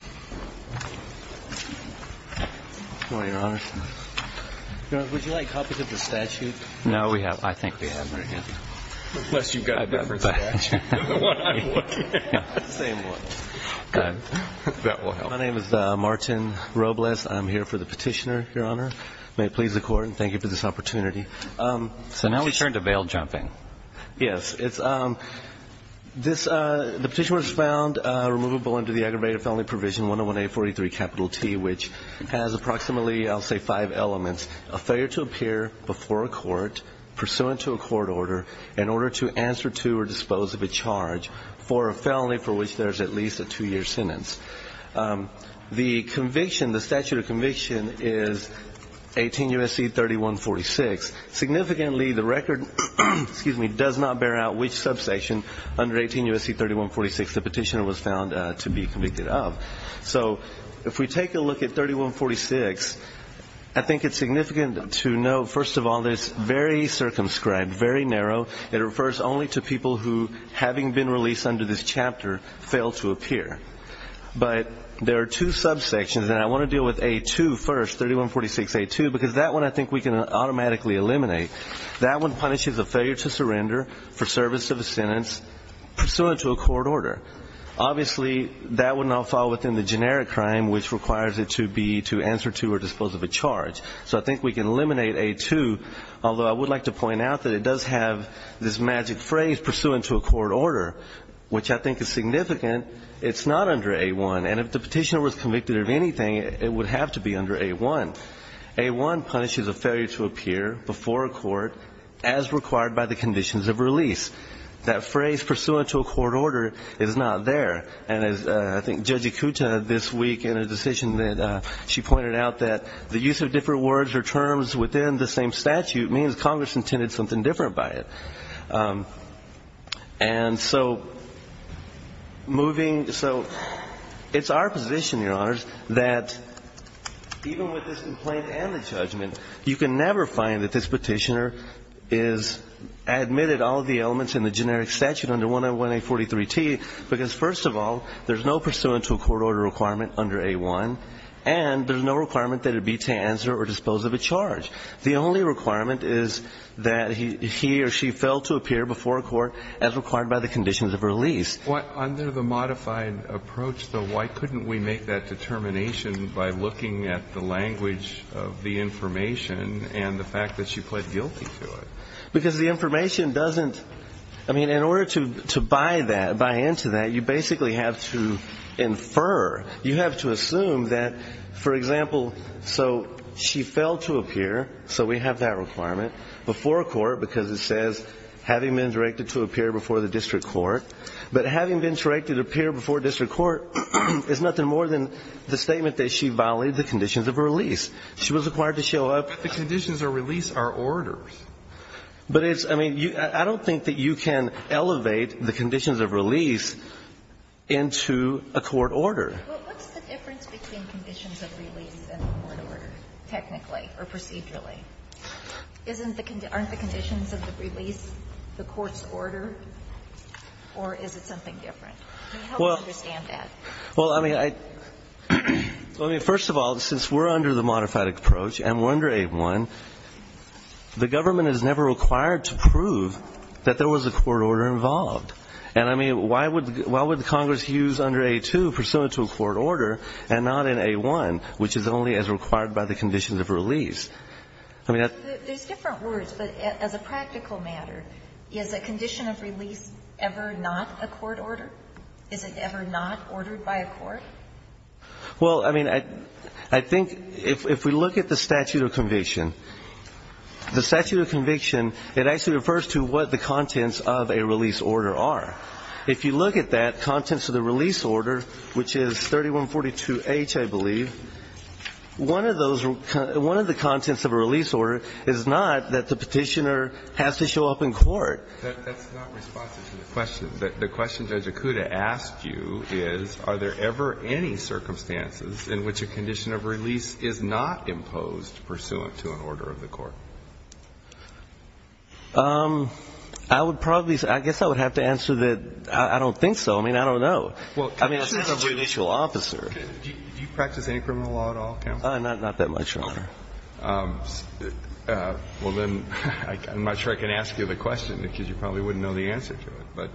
Martin Robles, Petitioner May it please the Court, and thank you for this opportunity. So now we turn to bail jumping. Yes. The petition was found removable under the aggravated felony provision 101-843-T, which has approximately, I'll say, five elements. A failure to appear before a court, pursuant to a court order, in order to answer to or dispose of a charge for a felony for which there is at least a two-year sentence. The conviction, the statute of conviction is 18 U.S.C. 3146. Significantly, the record does not bear out which subsection under 18 U.S.C. 3146 the petitioner was found to be convicted of. So if we take a look at 3146, I think it's significant to note, first of all, that it's very circumscribed, very narrow. It refers only to people who, having been released under this chapter, failed to appear. But there are two subsections, and I want to deal with A-2 first, 3146-A-2, because that one I think we can automatically eliminate. That one punishes a failure to surrender for service of a sentence pursuant to a court order. Obviously, that would not fall within the generic crime, which requires it to be to answer to or dispose of a charge. So I think we can eliminate A-2, although I would like to point out that it does have this magic phrase, pursuant to a court order, which I think is significant. It's not under A-1. And if the petitioner was convicted of anything, it would have to be under A-1. A-1 punishes a failure to appear before a court as required by the conditions of release. That phrase, pursuant to a court order, is not there. And as I think Judge Ikuta this week in a decision that she pointed out, that the use of different words or terms within the same statute means Congress intended something different by it. And so moving to so it's our position, Your Honors, that even with this complaint and the judgment, you can never find that this petitioner is admitted all of the elements in the generic statute under 101-A43-T, because, first of all, there's no pursuant to a court order requirement under A-1, and there's no requirement that it be to answer or dispose of a charge. The only requirement is that he or she fail to appear before a court as required by the conditions of release. But under the modified approach, though, why couldn't we make that determination by looking at the language of the information and the fact that she pled guilty to it? Because the information doesn't, I mean, in order to buy that, buy into that, you basically have to infer, you have to assume that, for example, so she failed to appear, so we have that requirement, before a court because it says having been directed to appear before the district court. But having been directed to appear before district court is nothing more than the statement that she violated the conditions of release. She was required to show up. The conditions of release are orders. But it's, I mean, I don't think that you can elevate the conditions of release into a court order. Well, what's the difference between conditions of release and the court order, technically or procedurally? Aren't the conditions of the release the court's order, or is it something different? I mean, how would you understand that? Well, I mean, first of all, since we're under the modified approach and we're under A-1, the government is never required to prove that there was a court order involved. And, I mean, why would Congress use under A-2 pursuant to a court order and not in A-1, which is only as required by the conditions of release? There's different words, but as a practical matter, is a condition of release ever not a court order? Is it ever not ordered by a court? Well, I mean, I think if we look at the statute of conviction, the statute of conviction, it actually refers to what the contents of a release order are. If you look at that, contents of the release order, which is 3142H, I believe, one of those one of the contents of a release order is not that the Petitioner has to show up in court. That's not responsive to the question. The question Judge Akuta asked you is, are there ever any circumstances in which a condition of release is not imposed pursuant to an order of the court? I would probably say, I guess I would have to answer that I don't think so. I mean, I don't know. I mean, I'm not a judicial officer. Do you practice any criminal law at all, counsel? Not that much, Your Honor. Well, then, I'm not sure I can ask you the question, because you probably wouldn't know the answer to it. But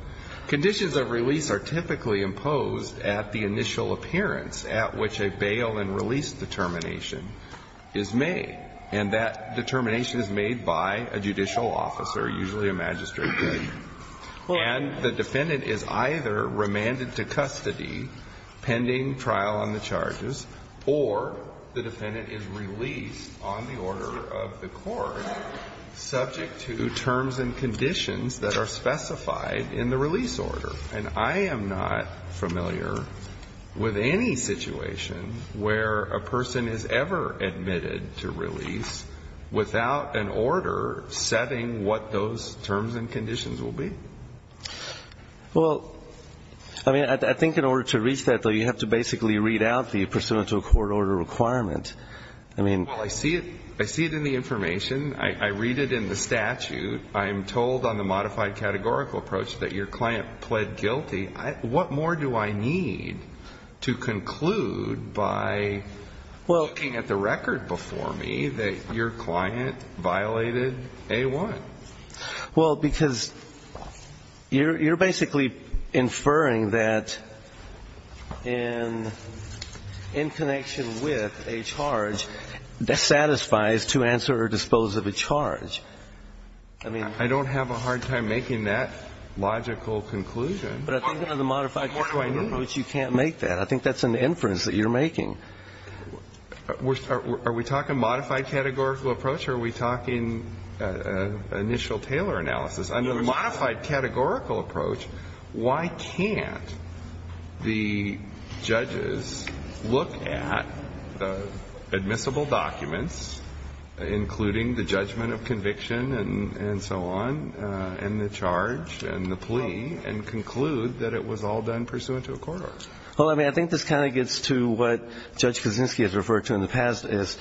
conditions of release are typically imposed at the initial appearance at which a bail and release determination is made. And that determination is made by a judicial officer, usually a magistrate. And the defendant is either remanded to custody pending trial on the charges, or the defendant is released on the order of the court subject to terms and conditions that are specified in the release order. And I am not familiar with any situation where a person is ever admitted to release without an order setting what those terms and conditions will be. Well, I mean, I think in order to reach that, though, you have to basically read out the pursuant to a court order requirement. I mean ---- Well, I see it in the information. I read it in the statute. I am told on the modified categorical approach that your client pled guilty. What more do I need to conclude by looking at the record before me that your client violated A-1? Well, because you're basically inferring that in connection with a charge, that satisfies to answer or dispose of a charge. I mean ---- I don't have a hard time making that logical conclusion. What more do I need? But I think under the modified categorical approach, you can't make that. I think that's an inference that you're making. Are we talking modified categorical approach or are we talking initial Taylor analysis? Under the modified categorical approach, why can't the judges look at admissible documents, including the judgment of conviction and so on, and the charge and the plea, and conclude that it was all done pursuant to a court order? Well, I mean, I think this kind of gets to what Judge Kaczynski has referred to in the past as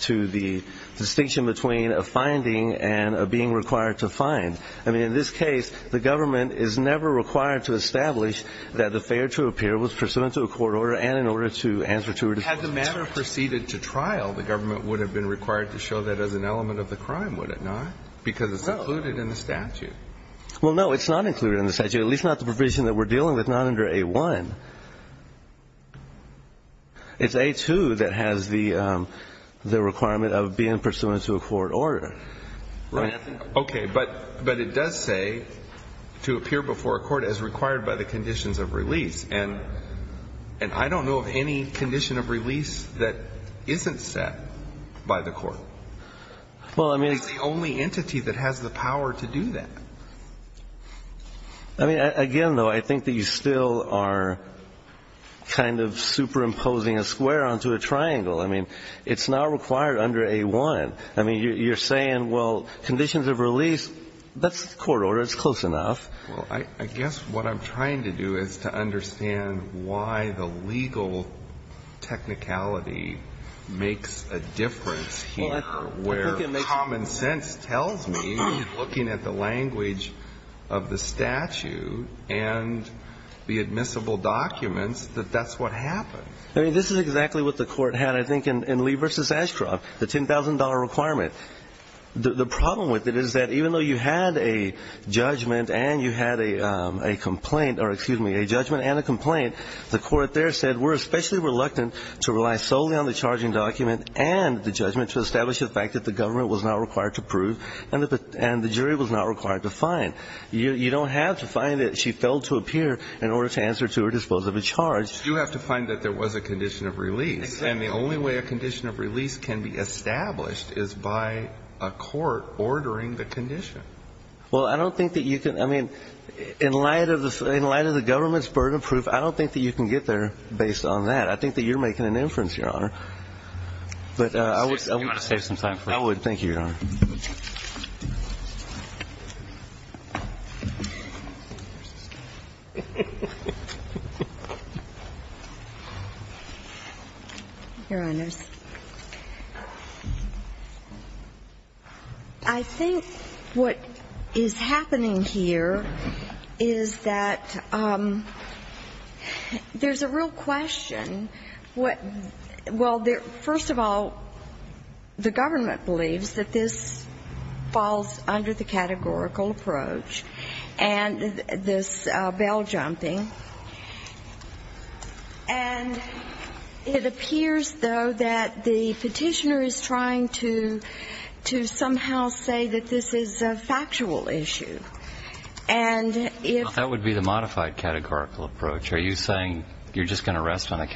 to the distinction between a finding and a being required to find. I mean, in this case, the government is never required to establish that the failure to appear was pursuant to a court order and in order to answer to or dispose of a charge. Had the matter proceeded to trial, the government would have been required to show that as an element of the crime, would it not? Because it's included in the statute. Well, no, it's not included in the statute, at least not the provision that we're talking about. It's A-2 that has the requirement of being pursuant to a court order. Right? Okay. But it does say to appear before a court as required by the conditions of release. And I don't know of any condition of release that isn't set by the court. Well, I mean. It's the only entity that has the power to do that. I mean, again, though, I think that you still are kind of superimposing a square onto a triangle. I mean, it's not required under A-1. I mean, you're saying, well, conditions of release, that's the court order. It's close enough. Well, I guess what I'm trying to do is to understand why the legal technicality makes a difference here. Where common sense tells me, looking at the language of the statute and the admissible documents, that that's what happens. I mean, this is exactly what the court had, I think, in Lee v. Ashcroft, the $10,000 requirement. The problem with it is that even though you had a judgment and you had a complaint or, excuse me, a judgment and a complaint, the court there said we're especially reluctant to rely solely on the charging document and the judgment to establish the fact that the government was not required to prove and the jury was not required to find. You don't have to find that she failed to appear in order to answer to or dispose of a charge. You have to find that there was a condition of release. Exactly. And the only way a condition of release can be established is by a court ordering the condition. Well, I don't think that you can. I mean, in light of the government's burden of proof, I don't think that you can get there based on that. I think that you're making an inference, Your Honor. But I would save some time for that. I would. Thank you, Your Honor. Your Honors, I think what is happening here is that there's a real question. Well, first of all, the government believes that this falls under the categorical approach and this bail jumping. And it appears, though, that the Petitioner is trying to somehow say that this is a factual issue. And if you're saying you're just going to rest on the categorical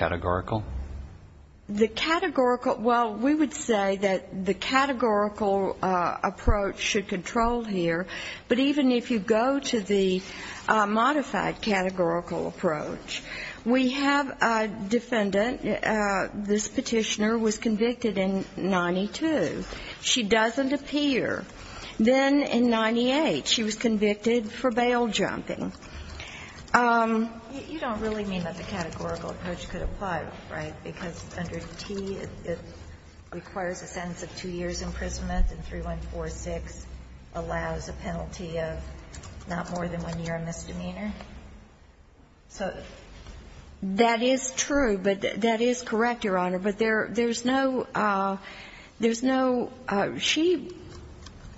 approach, would that be categorical? The categorical – well, we would say that the categorical approach should control here. But even if you go to the modified categorical approach, we have a defendant – this Petitioner was convicted in 92. She doesn't appear. Then in 98, she was convicted for bail jumping. You don't really mean that the categorical approach could apply, right? Because under T, it requires a sentence of two years' imprisonment, and 3146 allows a penalty of not more than one year of misdemeanor? So that is true, but that is correct, Your Honor. But there's no – there's no – she –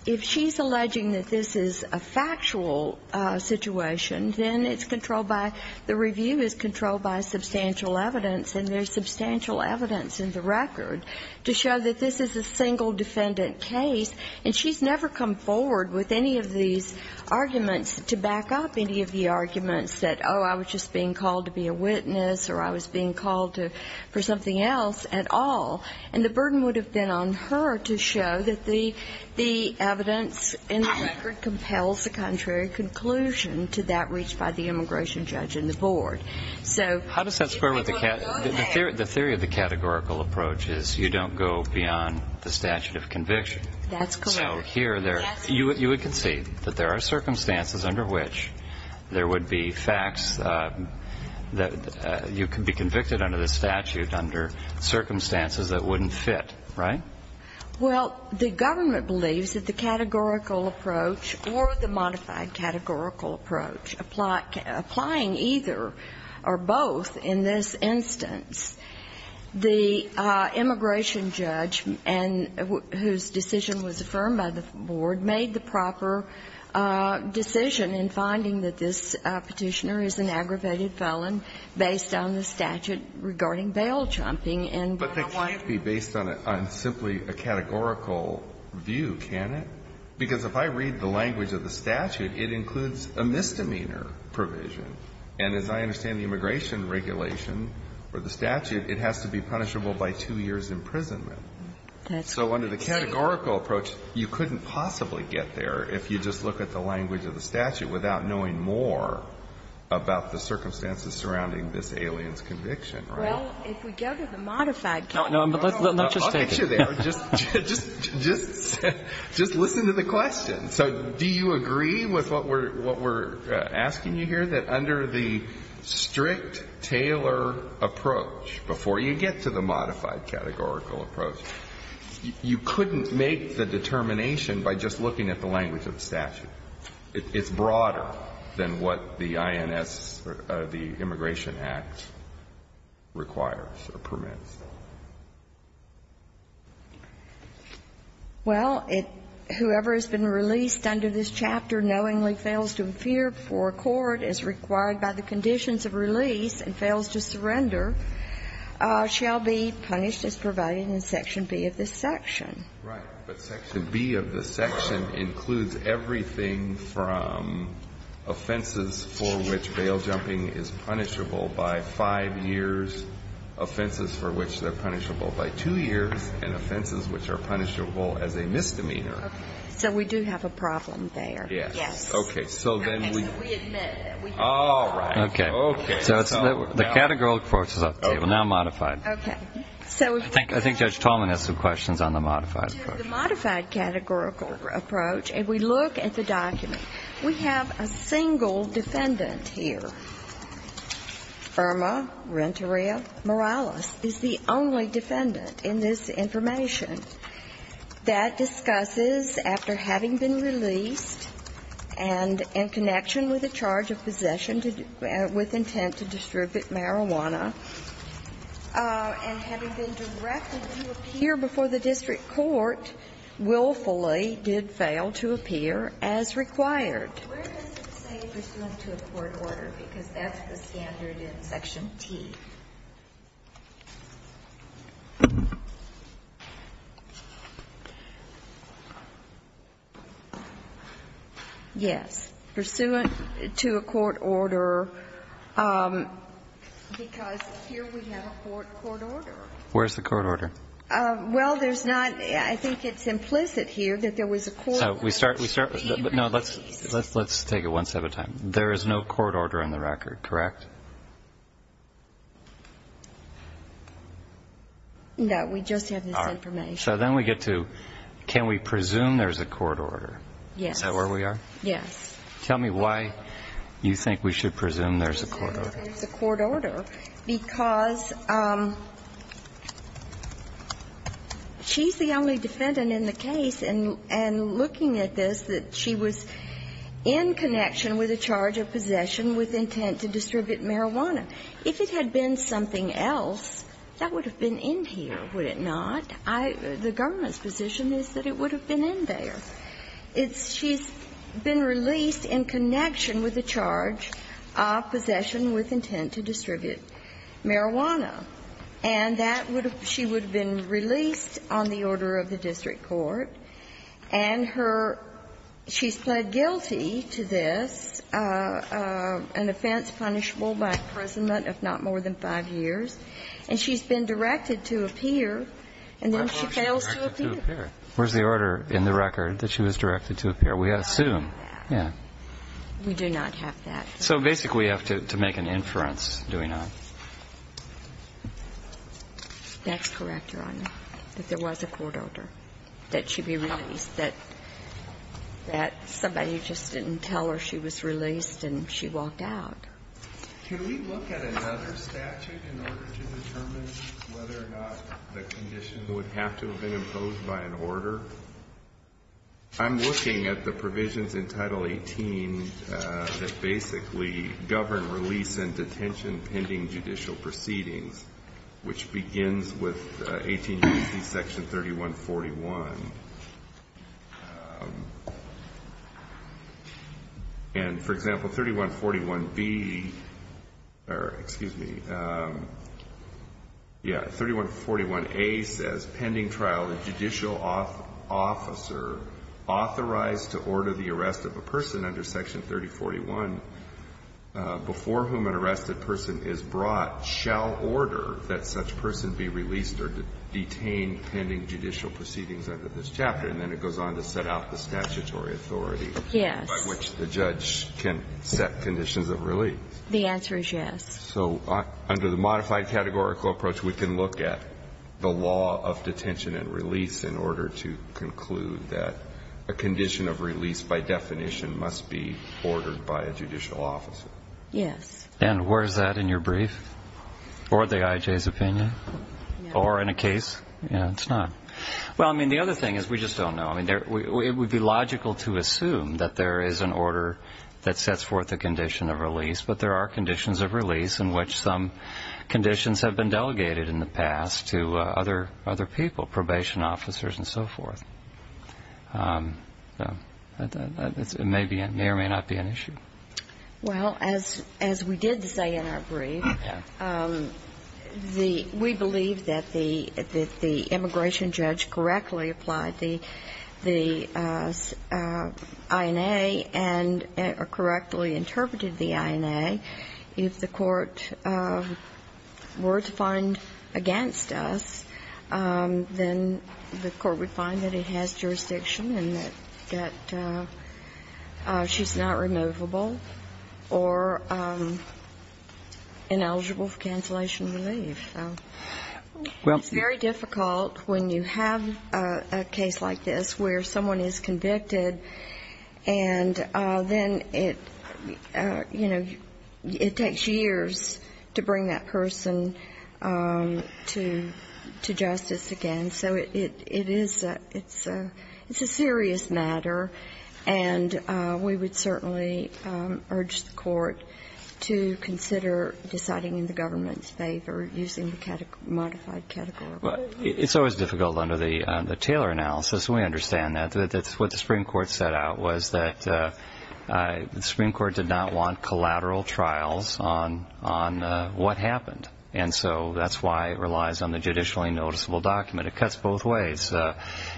if she's alleging that this is a factual situation, then it's controlled by – the review is controlled by substantial evidence, and there's substantial evidence in the record to show that this is a single defendant case. And she's never come forward with any of these arguments to back up any of the arguments that, oh, I was just being called to be a witness or I was being called to – for something else at all. And the burden would have been on her to show that the evidence in the record compels the contrary conclusion to that reached by the immigration judge and the board. So – How does that square with the – the theory of the categorical approach is you don't go beyond the statute of conviction. That's correct. So here there – you would concede that there are circumstances under which there would be facts that you could be convicted under the statute under circumstances that wouldn't fit, right? Well, the government believes that the categorical approach or the modified categorical approach, applying either or both in this instance, the immigration judge and – whose decision was affirmed by the board – made the proper decision in finding that this Petitioner is an aggravated felon based on the statute regarding bail chomping and – But that can't be based on a – on simply a categorical view, can it? Because if I read the language of the statute, it includes a misdemeanor provision. And as I understand the immigration regulation or the statute, it has to be punishable by two years' imprisonment. That's correct. So under the categorical approach, you couldn't possibly get there if you just look at the language of the statute without knowing more about the circumstances surrounding this alien's conviction, right? Well, if we go to the modified – No, no. I'll get you there. Just – just listen to the question. So do you agree with what we're – what we're asking you here, that under the strict Taylor approach, before you get to the modified categorical approach, you couldn't make the determination by just looking at the language of the statute? It's broader than what the INS or the Immigration Act requires or permits. Well, it – whoever has been released under this chapter knowingly fails to appear before a court as required by the conditions of release and fails to surrender shall be punished as provided in Section B of this section. Right. But Section B of this section includes everything from offenses for which bail jumping is punishable by five years, offenses for which they're punishable by two years, and offenses which are punishable as a misdemeanor. Okay. So we do have a problem there. Yes. Yes. Okay. So then we – Okay. So we admit it. We admit it. All right. Okay. Okay. So it's – the categorical approach is up to you. Okay. Now modified. Okay. I think Judge Tolman has some questions on the modified approach. The modified categorical approach, if we look at the document, we have a single defendant here. Irma Renteria Morales is the only defendant in this information that discusses after having been released and in connection with a charge of possession to – with having been directed to appear before the district court willfully did fail to appear as required. Where does it say pursuant to a court order? Because that's the standard in Section T. Yes. Pursuant to a court order because here we have a court order. Where's the court order? Well, there's not – I think it's implicit here that there was a court order. So we start – we start – no, let's take it one step at a time. There is no court order in the record, correct? No. We just have this information. All right. So then we get to can we presume there's a court order? Yes. Is that where we are? Yes. Tell me why you think we should presume there's a court order. Presume there's a court order because she's the only defendant in the case and looking at this that she was in connection with a charge of possession with intent to distribute marijuana. If it had been something else, that would have been in here, would it not? I – the government's position is that it would have been in there. It's – she's been released in connection with a charge of possession with intent to distribute marijuana. And that would have – she would have been released on the order of the district court, and her – she's pled guilty to this, an offense punishable by imprisonment of not more than 5 years, and she's been directed to appear, and then she fails to appear. Where's the order in the record that she was directed to appear? We assume. Yeah. Yeah. We do not have that. So basically we have to make an inference, do we not? That's correct, Your Honor, that there was a court order that she be released, that somebody just didn't tell her she was released and she walked out. Can we look at another statute in order to determine whether or not the condition would have to have been imposed by an order? I'm looking at the provisions in Title 18 that basically govern release and detention pending judicial proceedings, which begins with 18 U.C. Section 3141. And, for example, 3141B – or, excuse me, yeah, 3141A says, pending trial, a judicial officer authorized to order the arrest of a person under Section 3041 before whom an arrested person is brought shall order that such person be released or detained pending judicial proceedings under this chapter. And then it goes on to set out the statutory authority by which the judge can set conditions of release. The answer is yes. So under the modified categorical approach, we can look at the law of detention and release in order to conclude that a condition of release, by definition, must be ordered by a judicial officer. Yes. And where is that in your brief? Or the IJ's opinion? Or in a case? It's not. Well, I mean, the other thing is we just don't know. I mean, it would be logical to assume that there is an order that sets forth a condition of release, but there are conditions of release in which some conditions have been delegated in the past to other people, probation officers and so forth. It may or may not be an issue. Well, as we did say in our brief, we believe that the immigration judge correctly applied the INA and correctly interpreted the INA. If the court were to find against us, then the court would find that it has jurisdiction and that she's not removable or ineligible for cancellation of relief. So it's very difficult when you have a case like this where someone is convicted and then it, you know, it takes years to bring that person to justice again. So it is a serious matter, and we would certainly urge the court to consider deciding in the government's favor using the modified category. It's always difficult under the Taylor analysis. We understand that. That's what the Supreme Court set out was that the Supreme Court did not want collateral trials on what happened. And so that's why it relies on the judicially noticeable document. It cuts both ways.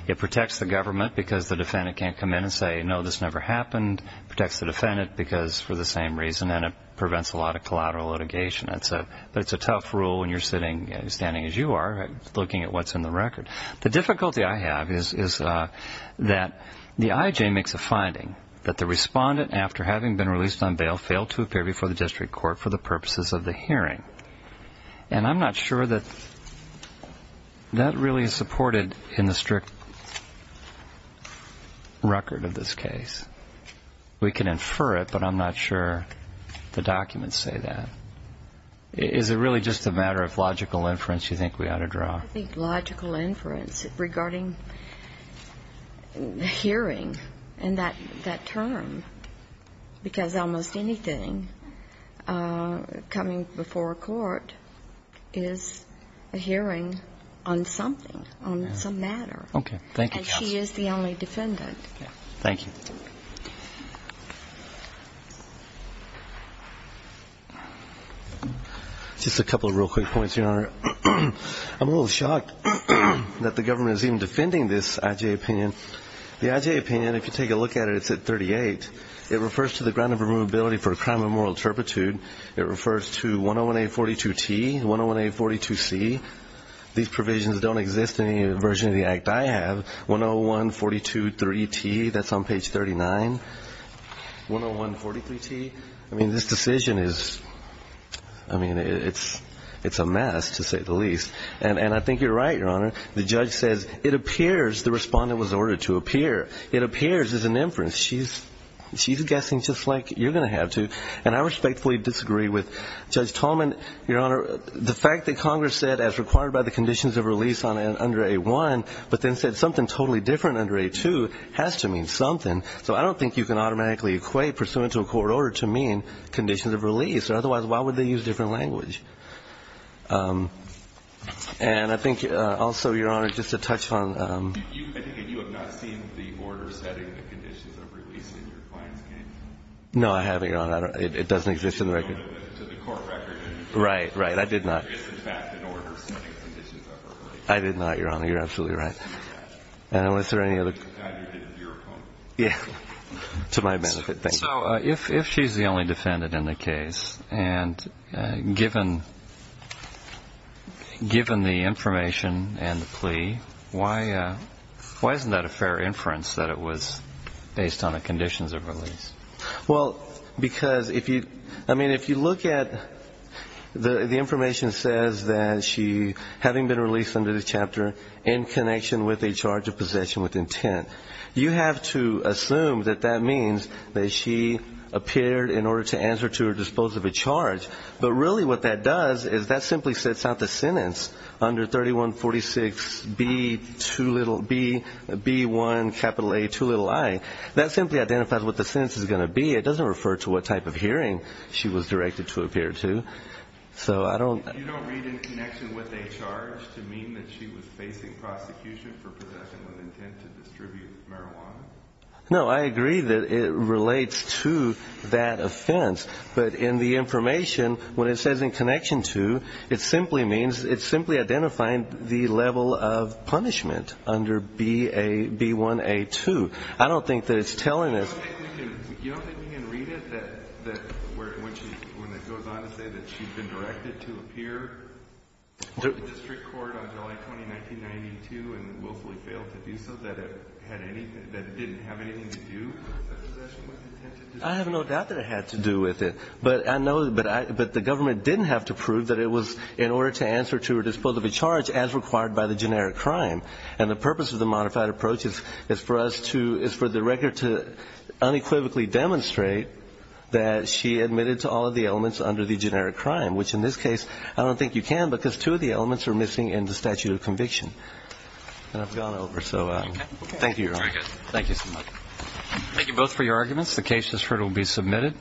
It protects the government because the defendant can't come in and say, no, this never happened. It protects the defendant because for the same reason, and it prevents a lot of collateral litigation. But it's a tough rule when you're standing as you are looking at what's in the record. The difficulty I have is that the IJ makes a finding that the respondent, after having been released on bail, failed to appear before the district court for the purposes of the hearing. And I'm not sure that that really is supported in the strict record of this case. We can infer it, but I'm not sure the documents say that. Is it really just a matter of logical inference you think we ought to draw? I think logical inference regarding the hearing and that term, because almost anything coming before a court is a hearing on something, on some matter. Okay. Thank you, counsel. And she is the only defendant. Thank you. Just a couple of real quick points, Your Honor. I'm a little shocked that the government is even defending this IJ opinion. The IJ opinion, if you take a look at it, it's at 38. It refers to the ground of removability for a crime of moral turpitude. It refers to 101-842-T, 101-842-C. These provisions don't exist in any version of the act I have. 101-423-T, that's on page 39. 101-423-T. I mean, this decision is, I mean, it's a mess, to say the least. And I think you're right, Your Honor. The judge says it appears the respondent was ordered to appear. It appears as an inference. She's guessing just like you're going to have to. And I respectfully disagree with Judge Tolman, Your Honor. The fact that Congress said, as required by the conditions of release under 8-1, but then said something totally different under 8-2 has to mean something. So I don't think you can automatically equate pursuant to a court order to mean conditions of release. Otherwise, why would they use different language? And I think also, Your Honor, just a touch on the ---- I think you have not seen the order setting the conditions of release in your client's case. No, I haven't, Your Honor. It doesn't exist in the record. To the court record. Right, right. I did not. It's, in fact, an order setting conditions of release. I did not, Your Honor. You're absolutely right. And was there any other ---- Neither did your opponent. Yeah. To my benefit. Thank you. Now, if she's the only defendant in the case, and given the information and the plea, why isn't that a fair inference that it was based on a conditions of release? Well, because if you look at the information that says that she, having been released under this chapter in connection with a charge of possession with intent, you have to assume that that means that she appeared in order to answer to or dispose of a charge. But really what that does is that simply sets out the sentence under 3146B1A2i. That simply identifies what the sentence is going to be. It doesn't refer to what type of hearing she was directed to appear to. So I don't ---- In connection with a charge to mean that she was facing prosecution for possession with intent to distribute marijuana? No, I agree that it relates to that offense. But in the information, when it says in connection to, it simply means it's simply identifying the level of punishment under B1A2. I don't think that it's telling us ---- You don't think we can read it that when it goes on to say that she's been directed to appear to the district court on July 20, 1992 and willfully failed to do so, that it had anything, that it didn't have anything to do with possession with intent? I have no doubt that it had to do with it. But I know, but the government didn't have to prove that it was in order to answer to or dispose of a charge as required by the generic crime. And the purpose of the modified approach is for us to, is for the record to unequivocally demonstrate that she admitted to all of the elements under the generic crime, which in this case, I don't think you can because two of the elements are missing in the statute of conviction. And I've gone over, so thank you, Your Honor. Thank you so much. Thank you both for your arguments. The case, as heard, will be submitted.